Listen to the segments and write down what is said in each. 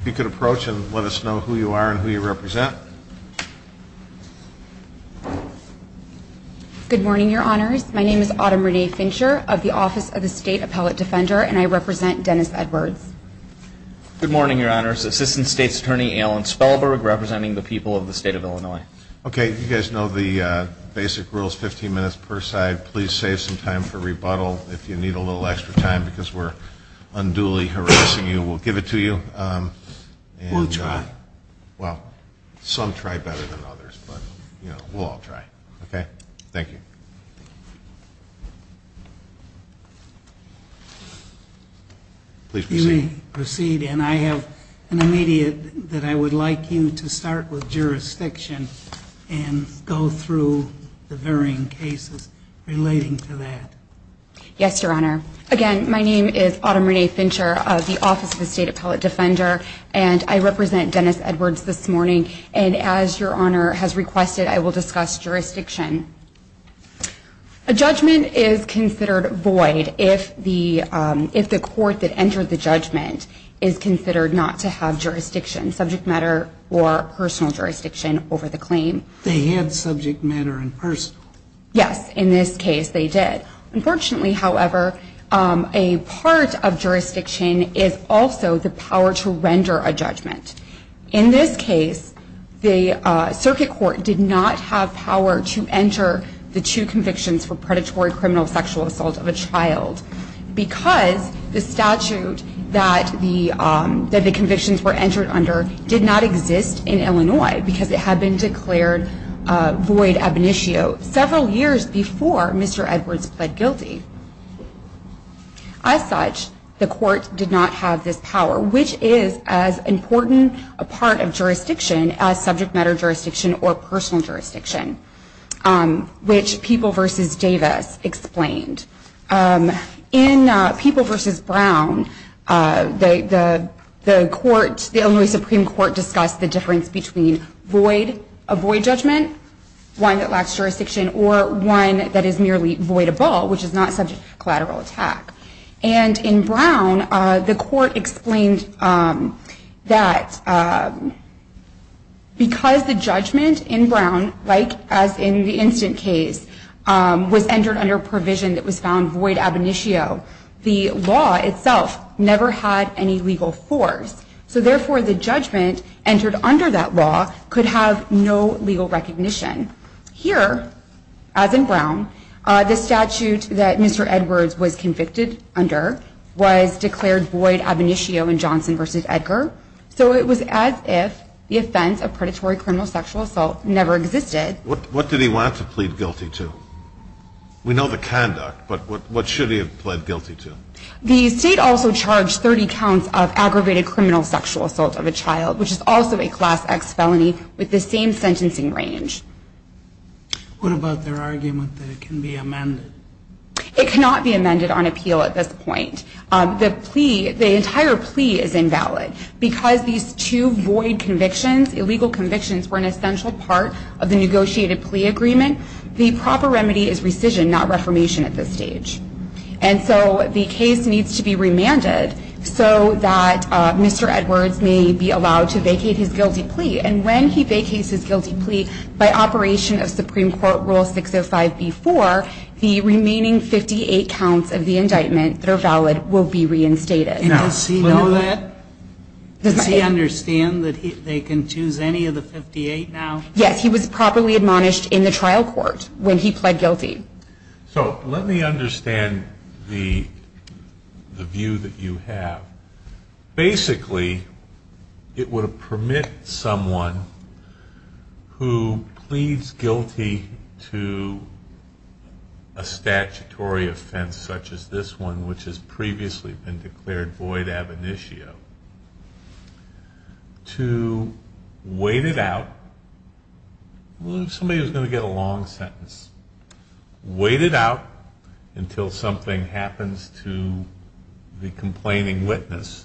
If you could approach and let us know who you are and who you represent. Good morning, your honors. My name is Autumn Renee Fincher of the Office of the State Appellate Defender, and I represent Dennis Edwards. Good morning, your honors. Assistant State's Attorney Alan Spellberg, representing the people of the state of Illinois. Okay, you guys know the basic rules, 15 minutes per side. Please save some time for rebuttal if you need a little extra time because we're unduly harassing you. We'll give it to you. We'll try. Well, some try better than others, but we'll all try, okay? Thank you. Please proceed. You may proceed. And I have an immediate that I would like you to start with jurisdiction and go through the varying cases relating to that. Yes, your honor. Again, my name is Autumn Renee Fincher of the Office of the State Appellate Defender, and I represent Dennis Edwards this morning. And as your honor has requested, I will discuss jurisdiction. A judgment is considered void if the court that entered the judgment is considered not to have jurisdiction, subject matter or personal jurisdiction over the claim. They had subject matter and personal. Yes, in this case, they did. Unfortunately, however, a part of jurisdiction is also the power to render a judgment. In this case, the circuit court did not have power to enter the two convictions for predatory criminal sexual assault of a child because the statute that the convictions were entered under did not exist in Illinois because it had been declared void ab initio several years before Mr. Edwards pled guilty. As such, the court did not have this power, which is as important a part of jurisdiction as subject matter jurisdiction or personal jurisdiction, which People v. Davis explained. In People v. Brown, the Illinois Supreme Court discussed the difference between a void judgment, one that lacks jurisdiction, or one that is merely voidable, which is not subject to collateral attack. In Brown, the court explained that because the judgment in Brown, like as in the instant case, was entered under a provision that was found void ab initio, the law itself never had any legal force. Therefore, the judgment entered under that law could have no legal recognition. Here, as in Brown, the statute that Mr. Edwards was convicted under was declared void ab initio in Johnson v. Edgar. So it was as if the offense of predatory criminal sexual assault never existed. What did he want to plead guilty to? We know the conduct, but what should he have pled guilty to? The state also charged 30 counts of aggravated criminal sexual assault of a child, which is also a Class X felony, with the same sentencing range. What about their argument that it can be amended? It cannot be amended on appeal at this point. The plea, the entire plea, is invalid. Because these two void convictions, illegal convictions, were an essential part of the negotiated plea agreement, the proper remedy is rescission, not reformation at this stage. And so the case needs to be remanded so that Mr. Edwards may be allowed to vacate his guilty plea. And when he vacates his guilty plea, by operation of Supreme Court Rule 605b-4, the remaining 58 counts of the indictment that are valid will be reinstated. Now, does he know that? Does he understand that they can choose any of the 58 now? Yes, he was properly admonished in the trial court when he pled guilty. So let me understand the view that you have. Basically, it would permit someone who pleads guilty to a statutory offense such as this one, which has previously been declared void ab initio, to wait it out. Somebody is going to get a long sentence. Wait it out until something happens to the complaining witness,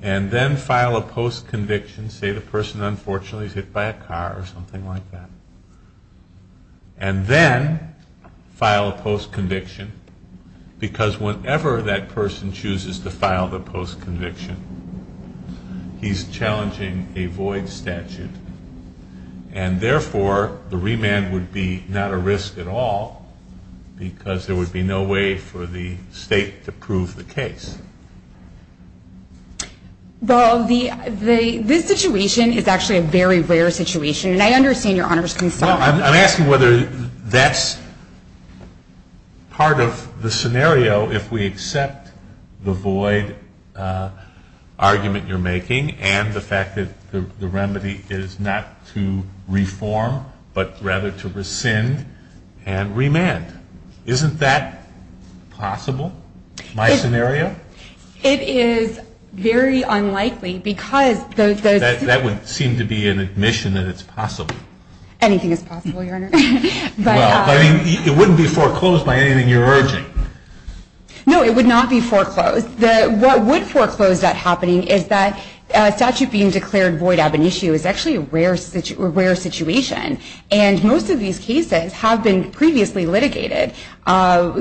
and then file a post-conviction, say the person unfortunately is hit by a car or something like that. And then file a post-conviction, because whenever that person chooses to file the post-conviction, he's challenging a void statute. And therefore, the remand would be not a risk at all, because there would be no way for the state to prove the case. Well, this situation is actually a very rare situation, and I understand your Honor's concern. Well, I'm asking whether that's part of the scenario if we accept the void argument you're making and the fact that the remedy is not to reform, but rather to rescind and remand. Isn't that possible, my scenario? It is very unlikely, because those... That would seem to be an admission that it's possible. Anything is possible, Your Honor. But it wouldn't be foreclosed by anything you're urging. No, it would not be foreclosed. What would foreclose that happening is that a statute being declared void ab initio is actually a rare situation. And most of these cases have been previously litigated. One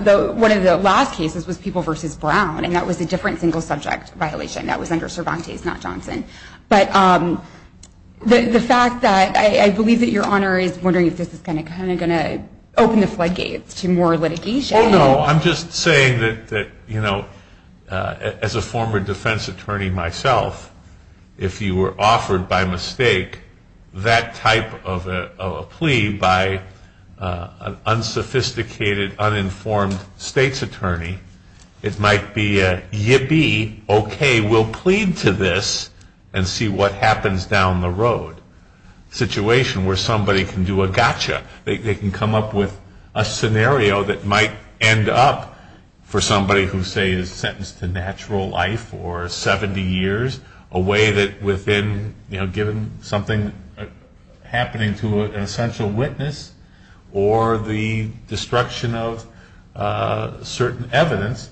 of the last cases was People v. Brown, and that was a different single subject violation. That was under Cervantes, not Johnson. But the fact that... I believe that Your Honor is wondering if this is going to open the floodgates to more litigation. Oh, no. I'm just saying that, you know, as a former defense attorney myself, if you were offered by mistake that type of a plea by an unsophisticated, uninformed states attorney, it might be a yippee, okay, we'll plead to this and see what happens down the road. Situation where somebody can do a gotcha. They can come up with a scenario that might end up for somebody who, say, is sentenced to natural life or 70 years, a way that within, you know, given something happening to an essential witness or the destruction of certain evidence,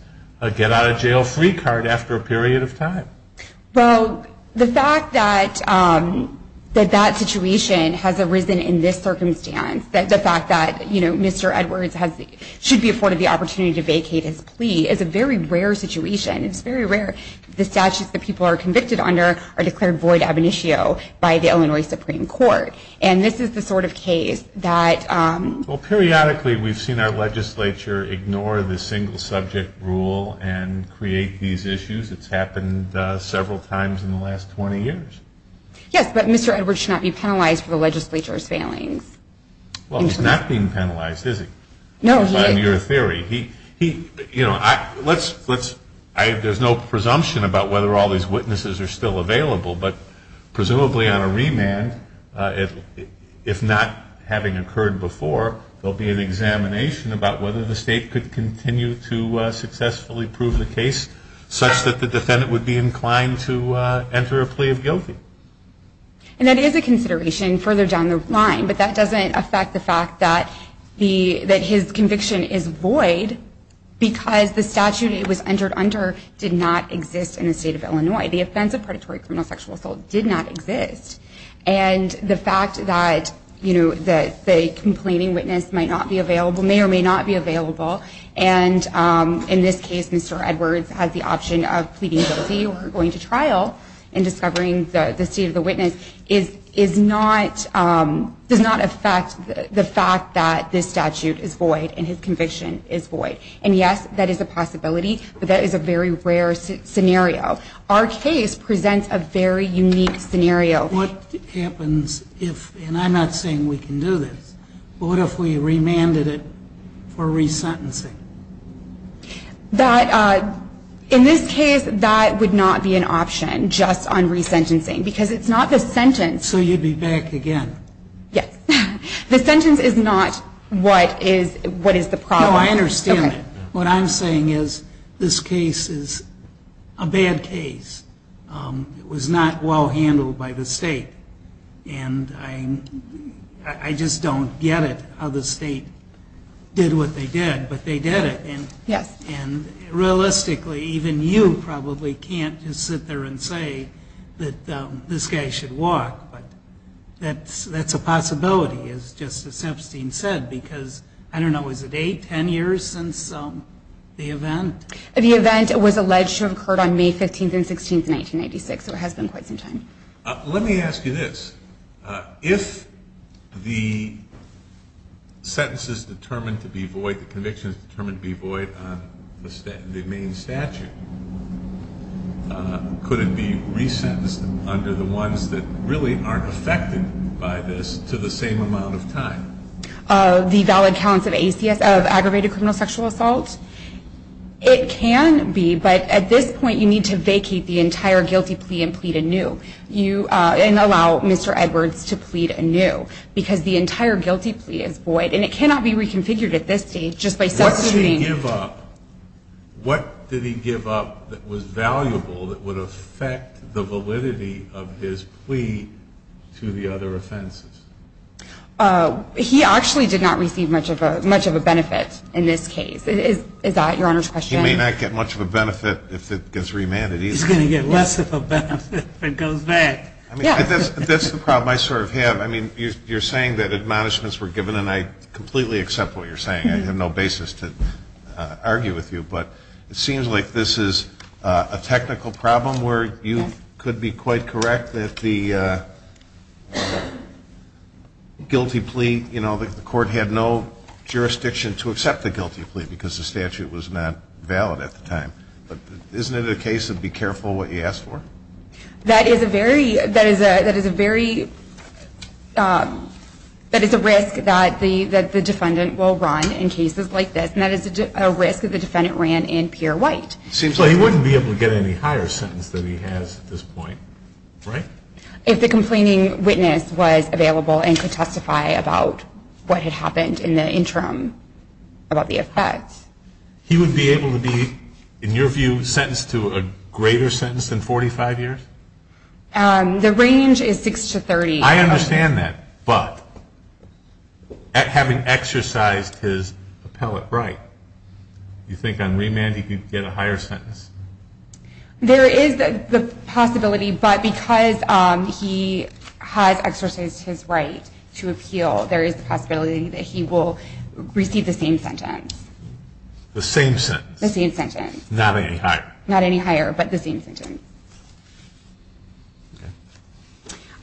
get out of jail free card after a period of time. Well, the fact that that situation has arisen in this circumstance, the fact that, you know, Mr. Edwards should be afforded the opportunity to vacate his plea is a very rare situation. It's very rare. The statutes that people are convicted under are declared void ab initio by the Illinois Supreme Court. And this is the sort of case that... Well, periodically we've seen our legislature ignore the single subject rule and create these issues. It's happened several times in the last 20 years. Yes, but Mr. Edwards should not be penalized for the legislature's failings. Well, he's not being penalized, is he? No, he is. In your theory. He, you know, let's, there's no presumption about whether all these witnesses are still available, but presumably on a remand, if not having occurred before, there'll be an examination about whether the state could continue to successfully prove the case such that the defendant would be inclined to enter a plea of guilty. And that is a consideration further down the line, but that doesn't affect the fact that his conviction is void because the statute it was entered under did not exist in the state of Illinois. The offense of predatory criminal sexual assault did not exist. And the fact that, you know, the complaining witness may or may not be available, and in this case Mr. Edwards has the option of pleading guilty or going to trial and discovering the state of the witness, does not affect the fact that this statute is void and his conviction is void. And yes, that is a possibility, but that is a very rare scenario. Our case presents a very unique scenario. What happens if, and I'm not saying we can do this, but what if we remanded it for resentencing? That, in this case, that would not be an option, just on resentencing, because it's not the sentence. So you'd be back again. Yes. The sentence is not what is the problem. No, I understand. Okay. What I'm saying is this case is a bad case. It was not well handled by the state. And I just don't get it how the state did what they did, but they did it. Yes. And realistically, even you probably can't just sit there and say that this guy should walk, but that's a possibility, as Justice Epstein said, because I don't know, is it 8, 10 years since the event? The event was alleged to have occurred on May 15th and 16th, 1996, so it has been quite some time. Let me ask you this. If the sentence is determined to be void, the conviction is determined to be void on the main statute, could it be resentenced under the ones that really aren't affected by this to the same amount of time? The valid counts of aggravated criminal sexual assault? It can be, but at this point you need to vacate the entire guilty plea and plead anew and allow Mr. Edwards to plead anew because the entire guilty plea is void, and it cannot be reconfigured at this stage just by substituting. What did he give up that was valuable that would affect the validity of his plea to the other offenses? He actually did not receive much of a benefit in this case. Is that Your Honor's question? He may not get much of a benefit if it gets remanded either. He's going to get less of a benefit if it goes back. That's the problem I sort of have. I mean, you're saying that admonishments were given, and I completely accept what you're saying. I have no basis to argue with you, but it seems like this is a technical problem where you could be quite correct that the guilty plea, you know, the court had no jurisdiction to accept the guilty plea because the statute was not valid at the time. But isn't it a case of be careful what you ask for? That is a risk that the defendant will run in cases like this, and that is a risk that the defendant ran in Pierre White. So he wouldn't be able to get any higher sentence than he has at this point, right? If the complaining witness was available and could testify about what had happened in the interim about the offense. He would be able to be, in your view, sentenced to a greater sentence than 45 years? The range is 6 to 30. I understand that, but having exercised his appellate right, do you think on remand he could get a higher sentence? There is the possibility, but because he has exercised his right to appeal, there is the possibility that he will receive the same sentence. The same sentence? The same sentence. Not any higher? Not any higher, but the same sentence.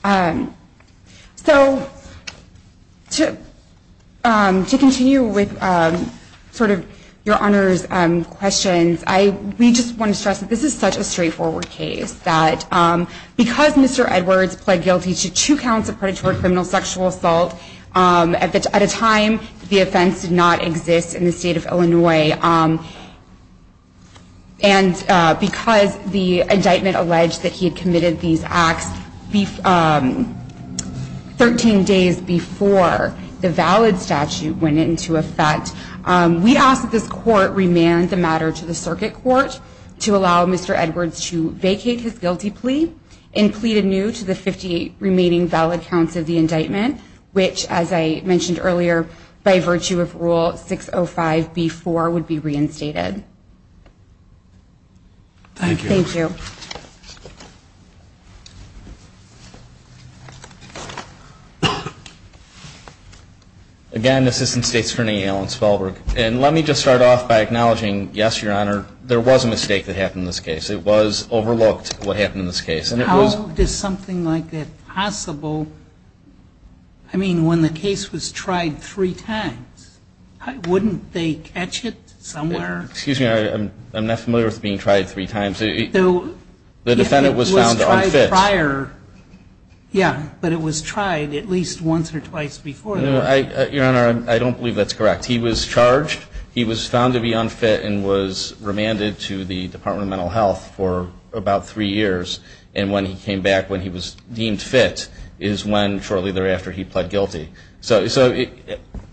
So to continue with sort of your Honor's questions, we just want to stress that this is such a straightforward case, that because Mr. Edwards pled guilty to two counts of predatory criminal sexual assault at a time the offense did not exist in the state of Illinois, and because the indictment alleged that he had committed these acts 13 days before the valid statute went into effect, we ask that this Court remand the matter to the Circuit Court to allow Mr. Edwards to vacate his guilty plea and plead anew to the 58 remaining valid counts of the indictment, which, as I mentioned earlier, by virtue of Rule 605B-4 would be reinstated. Thank you. Thank you. Again, Assistant State Attorney Alan Spelberg. And let me just start off by acknowledging, yes, Your Honor, there was a mistake that happened in this case. It was overlooked what happened in this case. How is something like that possible? I mean, when the case was tried three times, wouldn't they catch it somewhere? Excuse me. I'm not familiar with being tried three times. The defendant was found unfit. Yeah, but it was tried at least once or twice before. Your Honor, I don't believe that's correct. He was charged. He was found to be unfit and was remanded to the Department of Mental Health for about three years. And when he came back when he was deemed fit is when shortly thereafter he pled guilty. So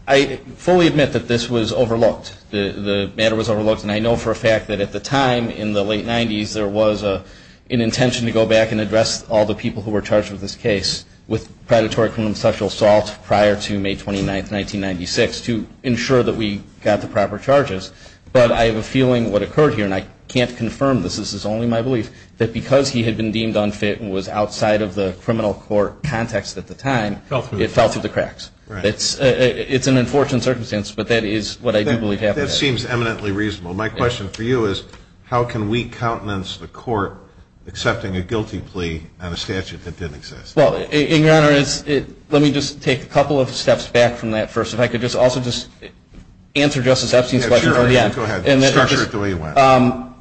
I fully admit that this was overlooked. The matter was overlooked. And I know for a fact that at the time in the late 90s there was an intention to go back and address all the people who were charged with this case with predatory criminal sexual assault prior to May 29, 1996 to ensure that we got the proper charges. But I have a feeling what occurred here, and I can't confirm this, this is only my belief, that because he had been deemed unfit and was outside of the criminal court context at the time, it fell through the cracks. It's an unfortunate circumstance, but that is what I do believe happened. That seems eminently reasonable. My question for you is how can we countenance the court accepting a guilty plea on a statute that didn't exist? Well, Your Honor, let me just take a couple of steps back from that first. If I could also just answer Justice Epstein's question. Sure, go ahead. Structure it the way you want.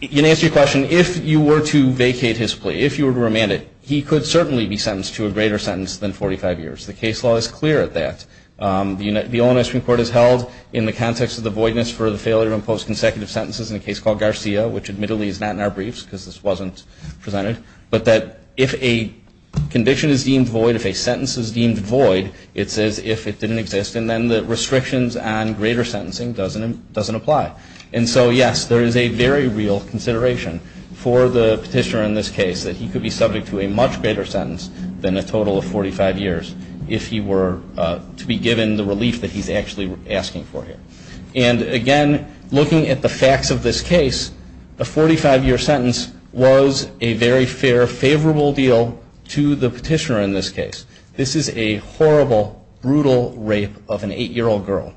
In answer to your question, if you were to vacate his plea, if you were to remand it, he could certainly be sentenced to a greater sentence than 45 years. The case law is clear at that. The Illinois Supreme Court has held in the context of the voidness for the failure to impose consecutive sentences in a case called Garcia, which admittedly is not in our briefs because this wasn't presented, but that if a conviction is deemed void, if a sentence is deemed void, it's as if it didn't exist. And then the restrictions on greater sentencing doesn't apply. And so, yes, there is a very real consideration for the petitioner in this case that he could be subject to a much greater sentence than a total of 45 years if he were to be given the relief that he's actually asking for here. And, again, looking at the facts of this case, the 45-year sentence was a very fair, favorable deal to the petitioner in this case. This is a horrible, brutal rape of an 8-year-old girl.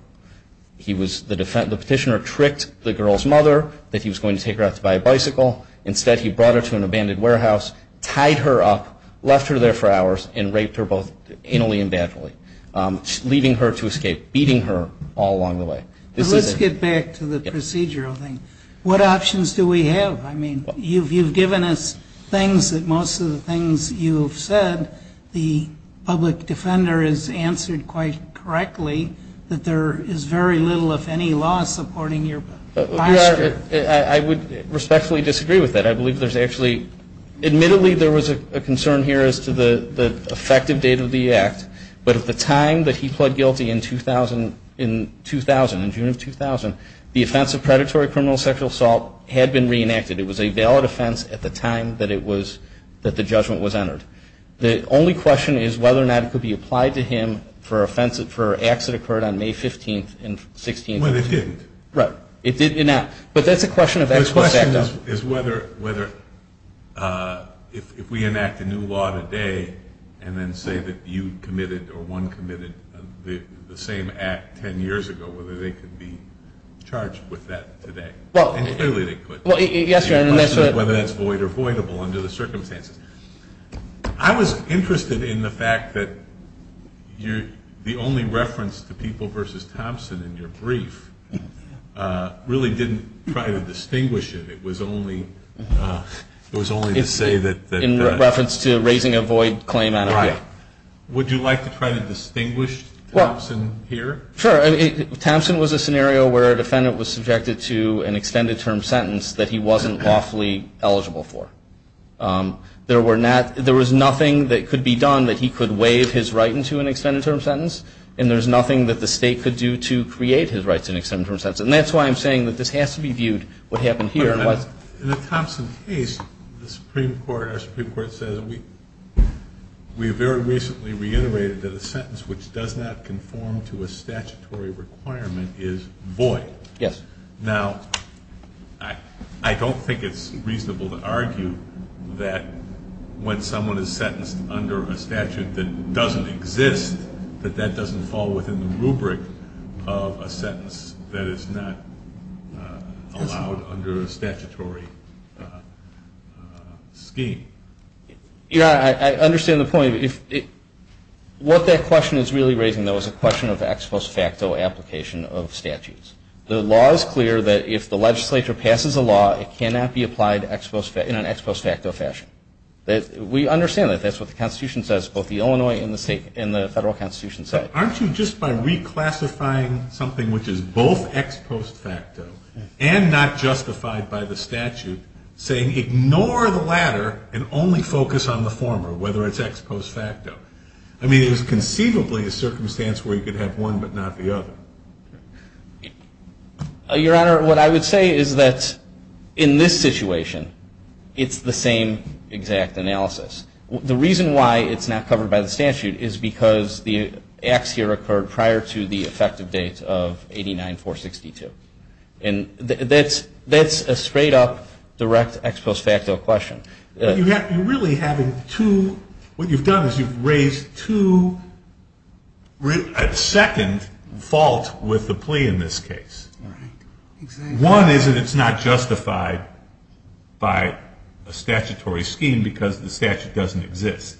The petitioner tricked the girl's mother that he was going to take her out to buy a bicycle. Instead, he brought her to an abandoned warehouse, tied her up, left her there for hours, and raped her both innately and badly, leaving her to escape, beating her all along the way. But let's get back to the procedural thing. What options do we have? I mean, you've given us things that most of the things you've said, the public defender has answered quite correctly that there is very little, if any, law supporting your posture. I would respectfully disagree with that. I believe there's actually ñ admittedly there was a concern here as to the effective date of the act, but at the time that he pled guilty in 2000, in June of 2000, the offense of predatory criminal sexual assault had been reenacted. It was a valid offense at the time that it was ñ that the judgment was entered. The only question is whether or not it could be applied to him for acts that occurred on May 15th and 16th. Well, it didn't. Right. It did not. But that's a question of experts. The question is whether if we enact a new law today and then say that you committed or one committed the same act 10 years ago, whether they could be charged with that today. And clearly they could. Yes, Your Honor. The question is whether that's void or voidable under the circumstances. I was interested in the fact that the only reference to people versus Thompson in your brief really didn't try to distinguish it. It was only to say that ñ In reference to raising a void claim on a ñ Right. Would you like to try to distinguish Thompson here? Sure. Thompson was a scenario where a defendant was subjected to an extended term sentence that he wasn't lawfully eligible for. There were not ñ there was nothing that could be done that he could waive his right into an extended term sentence. And there's nothing that the State could do to create his rights in an extended term sentence. And that's why I'm saying that this has to be viewed what happened here. In the Thompson case, the Supreme Court, our Supreme Court, we very recently reiterated that a sentence which does not conform to a statutory requirement is void. Yes. Now, I don't think it's reasonable to argue that when someone is sentenced under a statute that doesn't exist, that that doesn't fall within the rubric of a sentence that is not allowed under a statutory scheme. Your Honor, I understand the point. What that question is really raising, though, is a question of ex post facto application of statutes. The law is clear that if the legislature passes a law, it cannot be applied in an ex post facto fashion. We understand that. That's what the Constitution says, both the Illinois and the Federal Constitution say. Aren't you, just by reclassifying something which is both ex post facto and not justified by the statute, saying ignore the latter and only focus on the former, whether it's ex post facto? I mean, it was conceivably a circumstance where you could have one but not the other. Your Honor, what I would say is that in this situation, it's the same exact analysis. The reason why it's not covered by the statute is because the acts here occurred prior to the effective date of 89-462. And that's a straight up direct ex post facto question. You're really having two, what you've done is you've raised two, a second fault with the plea in this case. One is that it's not justified by a statutory scheme because the statute doesn't exist.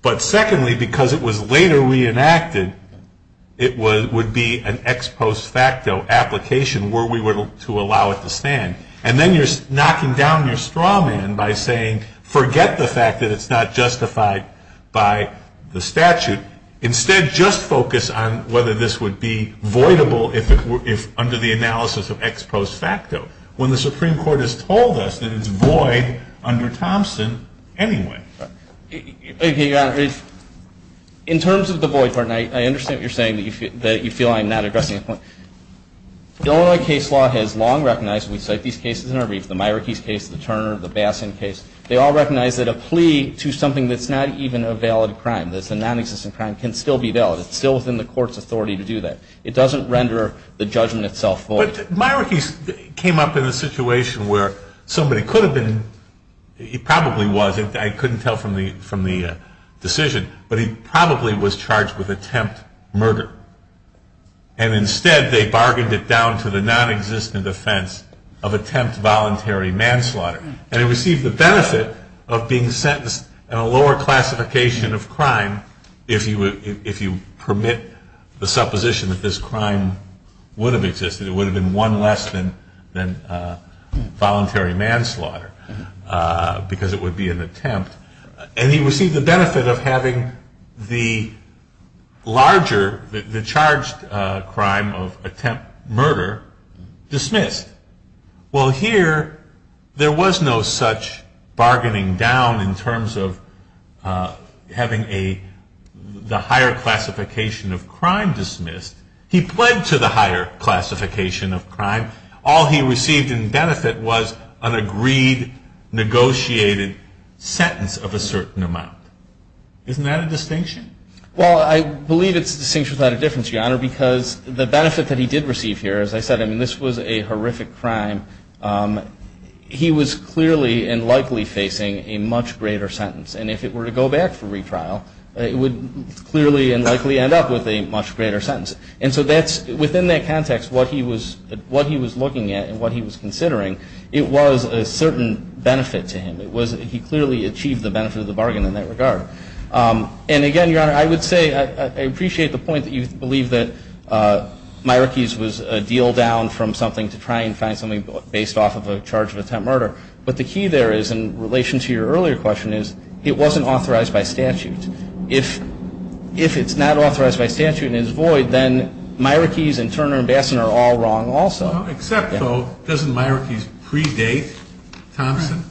But secondly, because it was later reenacted, it would be an ex post facto application where we were to allow it to stand. And then you're knocking down your straw man by saying forget the fact that it's not justified by the statute. Instead, just focus on whether this would be voidable if under the analysis of ex post facto, when the Supreme Court has told us that it's void under Thompson anyway. Your Honor, in terms of the void part, and I understand what you're saying, that you feel I'm not addressing the point. The Illinois case law has long recognized, we cite these cases in our brief, the Myrick case, the Turner, the Bassin case. They all recognize that a plea to something that's not even a valid crime, that's a nonexistent crime, can still be valid. It's still within the court's authority to do that. It doesn't render the judgment itself void. But Myrick came up in a situation where somebody could have been, he probably was, I couldn't tell from the decision, but he probably was charged with attempt murder. And instead they bargained it down to the nonexistent offense of attempt voluntary manslaughter. And he received the benefit of being sentenced in a lower classification of crime, if you permit the supposition that this crime would have existed. It would have been one less than voluntary manslaughter, because it would be an attempt. And he received the benefit of having the larger, the charged crime of attempt murder, dismissed. Well, here, there was no such bargaining down in terms of having the higher classification of crime dismissed. He pled to the higher classification of crime. All he received in benefit was an agreed, negotiated sentence of a certain amount. Isn't that a distinction? Well, I believe it's a distinction without a difference, Your Honor, because the benefit that he did receive here, as I said, I mean, this was a horrific crime. He was clearly and likely facing a much greater sentence. And if it were to go back for retrial, it would clearly and likely end up with a much greater sentence. And so within that context, what he was looking at and what he was considering, it was a certain benefit to him. He clearly achieved the benefit of the bargain in that regard. And again, Your Honor, I would say I appreciate the point that you believe that Myrickies was a deal down from something to try and find something based off of a charge of attempt murder. But the key there is, in relation to your earlier question, is it wasn't authorized by statute. If it's not authorized by statute and is void, then Myrickies and Turner and Bassan are all wrong also. Except, though, doesn't Myrickies predate Thompson?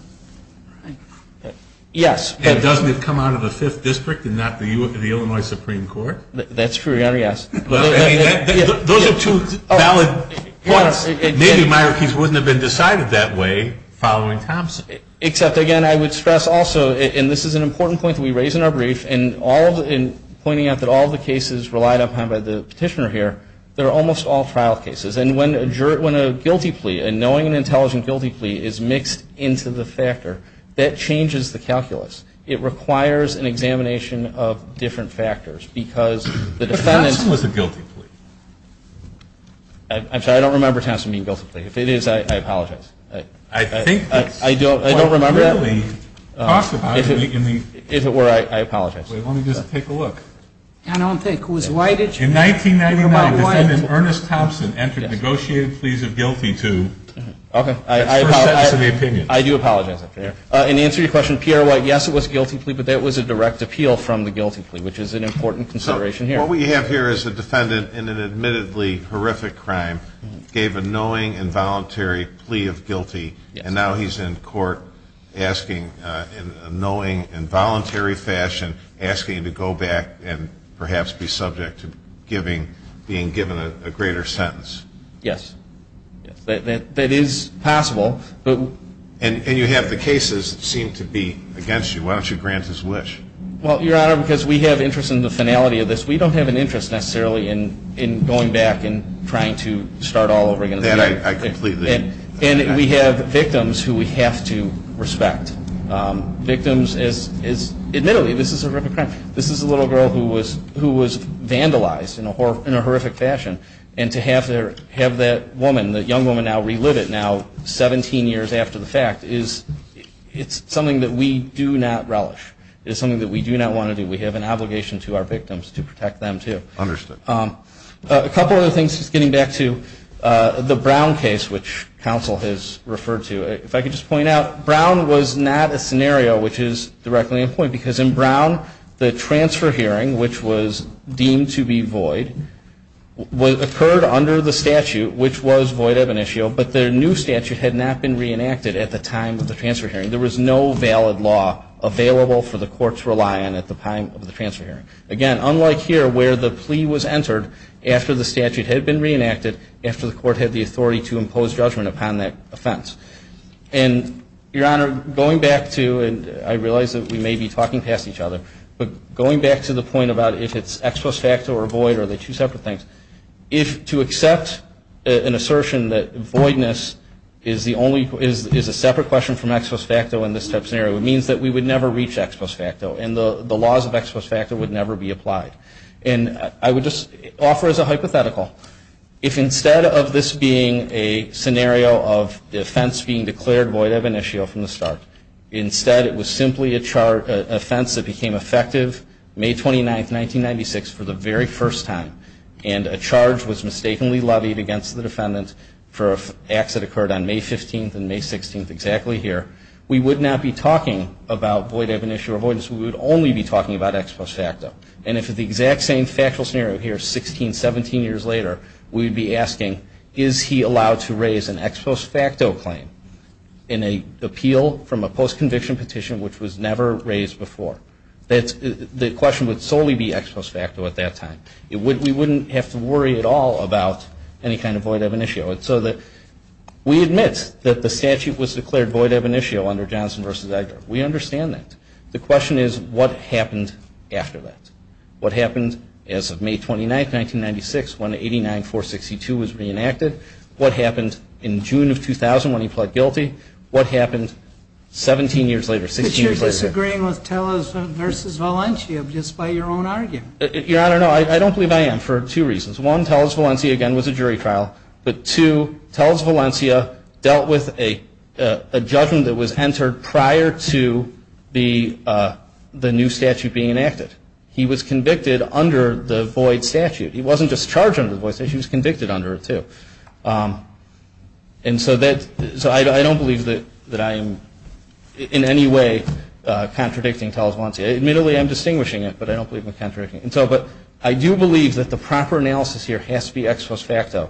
Yes. And doesn't it come out of the Fifth District and not the Illinois Supreme Court? That's true, Your Honor, yes. Those are two valid points. Maybe Myrickies wouldn't have been decided that way following Thompson. Except, again, I would stress also, and this is an important point that we raise in our brief, in pointing out that all the cases relied upon by the petitioner here, they're almost all trial cases. And when a guilty plea, a knowing and intelligent guilty plea, is mixed into the factor, that changes the calculus. It requires an examination of different factors because the defendant – But Thompson was a guilty plea. I'm sorry, I don't remember Thompson being a guilty plea. If it is, I apologize. I think – I don't remember that. It was clearly talked about in the – If it were, I apologize. Wait, let me just take a look. I don't think it was. In 1999, defendant Ernest Thompson entered negotiated pleas of guilty to – That's first sentence of the opinion. I do apologize. In answer to your question, P.R. White, yes, it was a guilty plea, but that was a direct appeal from the guilty plea, which is an important consideration here. What we have here is a defendant in an admittedly horrific crime gave a knowing, involuntary plea of guilty, and now he's in court asking, in a knowing, involuntary fashion, asking to go back and perhaps be subject to giving – being given a greater sentence. Yes. That is possible, but – And you have the cases that seem to be against you. Why don't you grant his wish? Well, Your Honor, because we have interest in the finality of this. We don't have an interest necessarily in going back and trying to start all over again. That I completely – And we have victims who we have to respect. Victims as – admittedly, this is a horrific crime. This is a little girl who was vandalized in a horrific fashion, and to have that woman, that young woman, now relive it, now 17 years after the fact is – it's something that we do not relish. It is something that we do not want to do. We have an obligation to our victims to protect them, too. Understood. A couple other things, just getting back to the Brown case, which counsel has referred to. If I could just point out, Brown was not a scenario which is directly in point, because in Brown, the transfer hearing, which was deemed to be void, occurred under the statute, which was void of initio, but their new statute had not been reenacted at the time of the transfer hearing. There was no valid law available for the court to rely on at the time of the transfer hearing. Again, unlike here, where the plea was entered after the statute had been reenacted, after the court had the authority to impose judgment upon that offense. And, Your Honor, going back to – and I realize that we may be talking past each other, but going back to the point about if it's expos facto or void, or are they two separate things, if – to accept an assertion that voidness is the only – is a separate question from expos facto in this type of scenario, it means that we would never reach expos facto, and the laws of expos facto would never be applied. And I would just offer as a hypothetical, if instead of this being a scenario of the offense being declared void of initio from the start, instead it was simply a charge – offense that became effective May 29th, 1996, for the very first time, and a charge was mistakenly levied against the defendant for acts that occurred on May 15th and May 16th, exactly here, we would not be talking about void of initio or voidness. We would only be talking about expos facto. And if it's the exact same factual scenario here 16, 17 years later, we would be asking, is he allowed to raise an expos facto claim in an appeal from a post-conviction petition which was never raised before? The question would solely be expos facto at that time. We wouldn't have to worry at all about any kind of void of initio. We admit that the statute was declared void of initio under Johnson v. Edgar. We understand that. The question is, what happened after that? What happened as of May 29th, 1996, when 89-462 was reenacted? What happened in June of 2000 when he pled guilty? What happened 17 years later, 16 years later? But you're disagreeing with Tellez v. Valencia just by your own argument. Your Honor, no, I don't believe I am for two reasons. One, Tellez v. Valencia, again, was a jury trial. But two, Tellez v. Valencia dealt with a judgment that was entered prior to the new statute being enacted. He was convicted under the void statute. He wasn't just charged under the void statute. He was convicted under it, too. And so I don't believe that I am in any way contradicting Tellez v. Valencia. Admittedly, I'm distinguishing it, but I don't believe I'm contradicting it. But I do believe that the proper analysis here has to be ex post facto,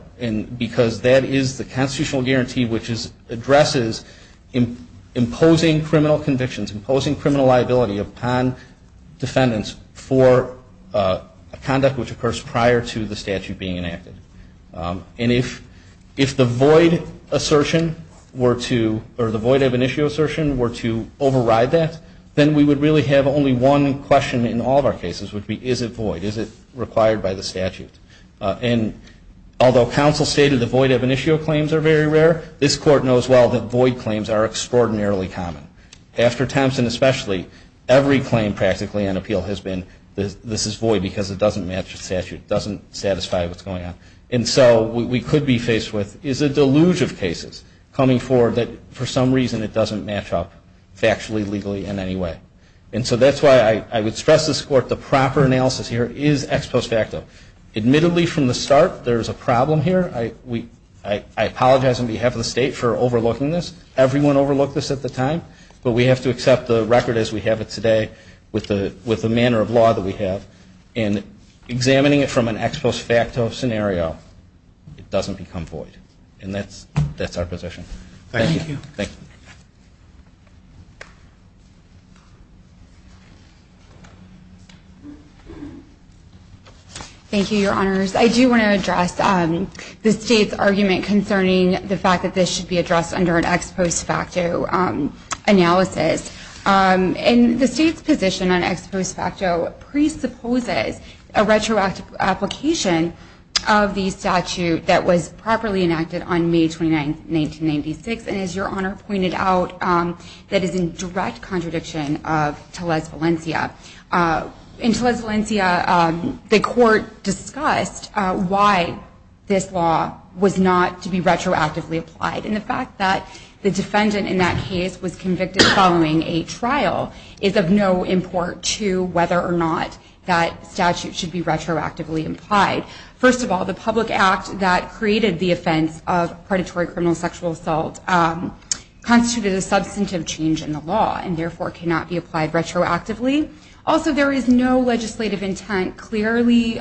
because that is the constitutional guarantee which addresses imposing criminal convictions, imposing criminal liability upon defendants for conduct which occurs prior to the statute being enacted. And if the void assertion were to, or the void ab initio assertion were to override that, then we would really have only one question in all of our cases, which would be, is it void? Is it required by the statute? And although counsel stated the void ab initio claims are very rare, this Court knows well that void claims are extraordinarily common. After Thompson especially, every claim practically on appeal has been, this is void because it doesn't match the statute. It doesn't satisfy what's going on. And so what we could be faced with is a deluge of cases coming forward that, for some reason, it doesn't match up factually, legally, in any way. And so that's why I would stress this Court, the proper analysis here is ex post facto. Admittedly, from the start, there's a problem here. I apologize on behalf of the State for overlooking this. Everyone overlooked this at the time. But we have to accept the record as we have it today with the manner of law that we have. And examining it from an ex post facto scenario, it doesn't become void. And that's our position. Thank you. Thank you. Thank you, Your Honors. I do want to address the State's argument concerning the fact that this should be addressed under an ex post facto analysis. And the State's position on ex post facto presupposes a retroactive application of the statute that was properly enacted on May 29, 1996. And as Your Honor pointed out, that is in direct contradiction of Tellez-Valencia. In Tellez-Valencia, the Court discussed why this law was not to be retroactively applied. And the fact that the defendant in that case was convicted following a trial is of no import to whether or not that statute should be retroactively applied. First of all, the public act that created the offense of predatory criminal sexual assault constituted a substantive change in the law and therefore cannot be applied retroactively. Also, there is no legislative intent clearly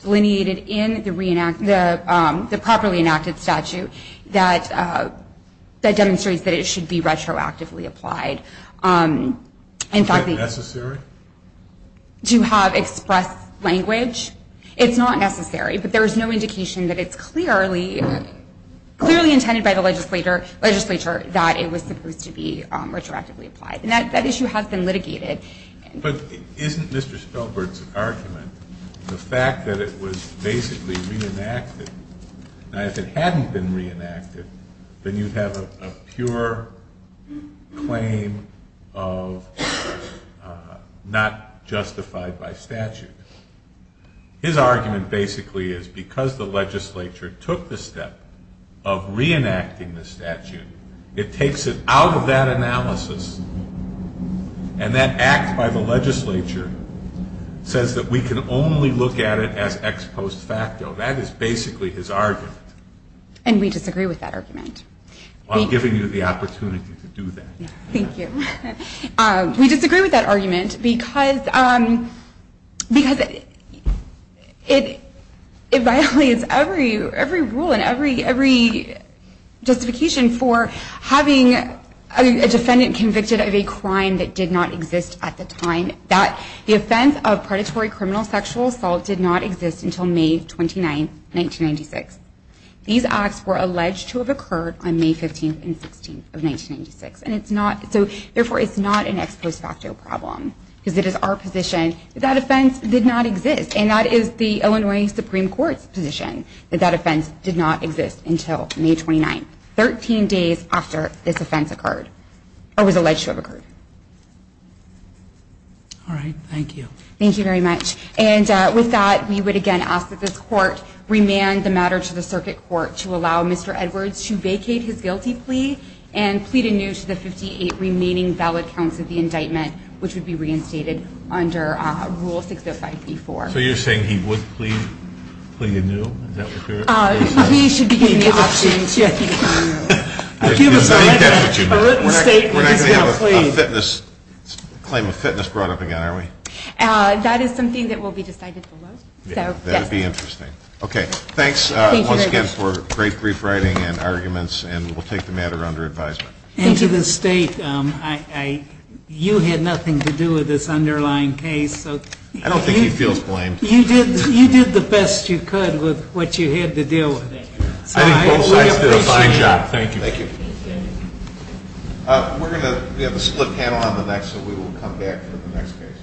delineated in the properly enacted statute that demonstrates that it should be retroactively applied. Is that necessary? To have expressed language? It's not necessary, but there is no indication that it's clearly intended by the legislature that it was supposed to be retroactively applied. And that issue has been litigated. But isn't Mr. Spielberg's argument the fact that it was basically reenacted? Now if it hadn't been reenacted, then you'd have a pure claim of not justified by statute. His argument basically is because the legislature took the step of reenacting the statute, it takes it out of that analysis and that act by the legislature says that we can only look at it as ex post facto. That is basically his argument. And we disagree with that argument. I'm giving you the opportunity to do that. Thank you. We disagree with that argument because it violates every rule and every justification for having a defendant convicted of a crime that did not exist at the time. The offense of predatory criminal sexual assault did not exist until May 29th, 1996. These acts were alleged to have occurred on May 15th and 16th of 1996. Therefore, it's not an ex post facto problem because it is our position that that offense did not exist. And that is the Illinois Supreme Court's position that that offense did not exist until May 29th, 13 days after this offense occurred or was alleged to have occurred. All right. Thank you. Thank you very much. And with that, we would again ask that this court remand the matter to the circuit court to allow Mr. Edwards to vacate his guilty plea and plead anew to the 58 remaining valid counts of the indictment, which would be reinstated under Rule 605B4. So you're saying he would plead anew? We should be able to change that. We're not going to have a claim of fitness brought up again, are we? That is something that will be decided below. That would be interesting. Okay. Thanks once again for great brief writing and arguments. And we'll take the matter under advisement. And to the State, you had nothing to do with this underlying case. I don't think he feels blamed. You did the best you could with what you had to deal with. I think both sides did a fine job. Thank you. We have a split panel on the next, so we will come back for the next case.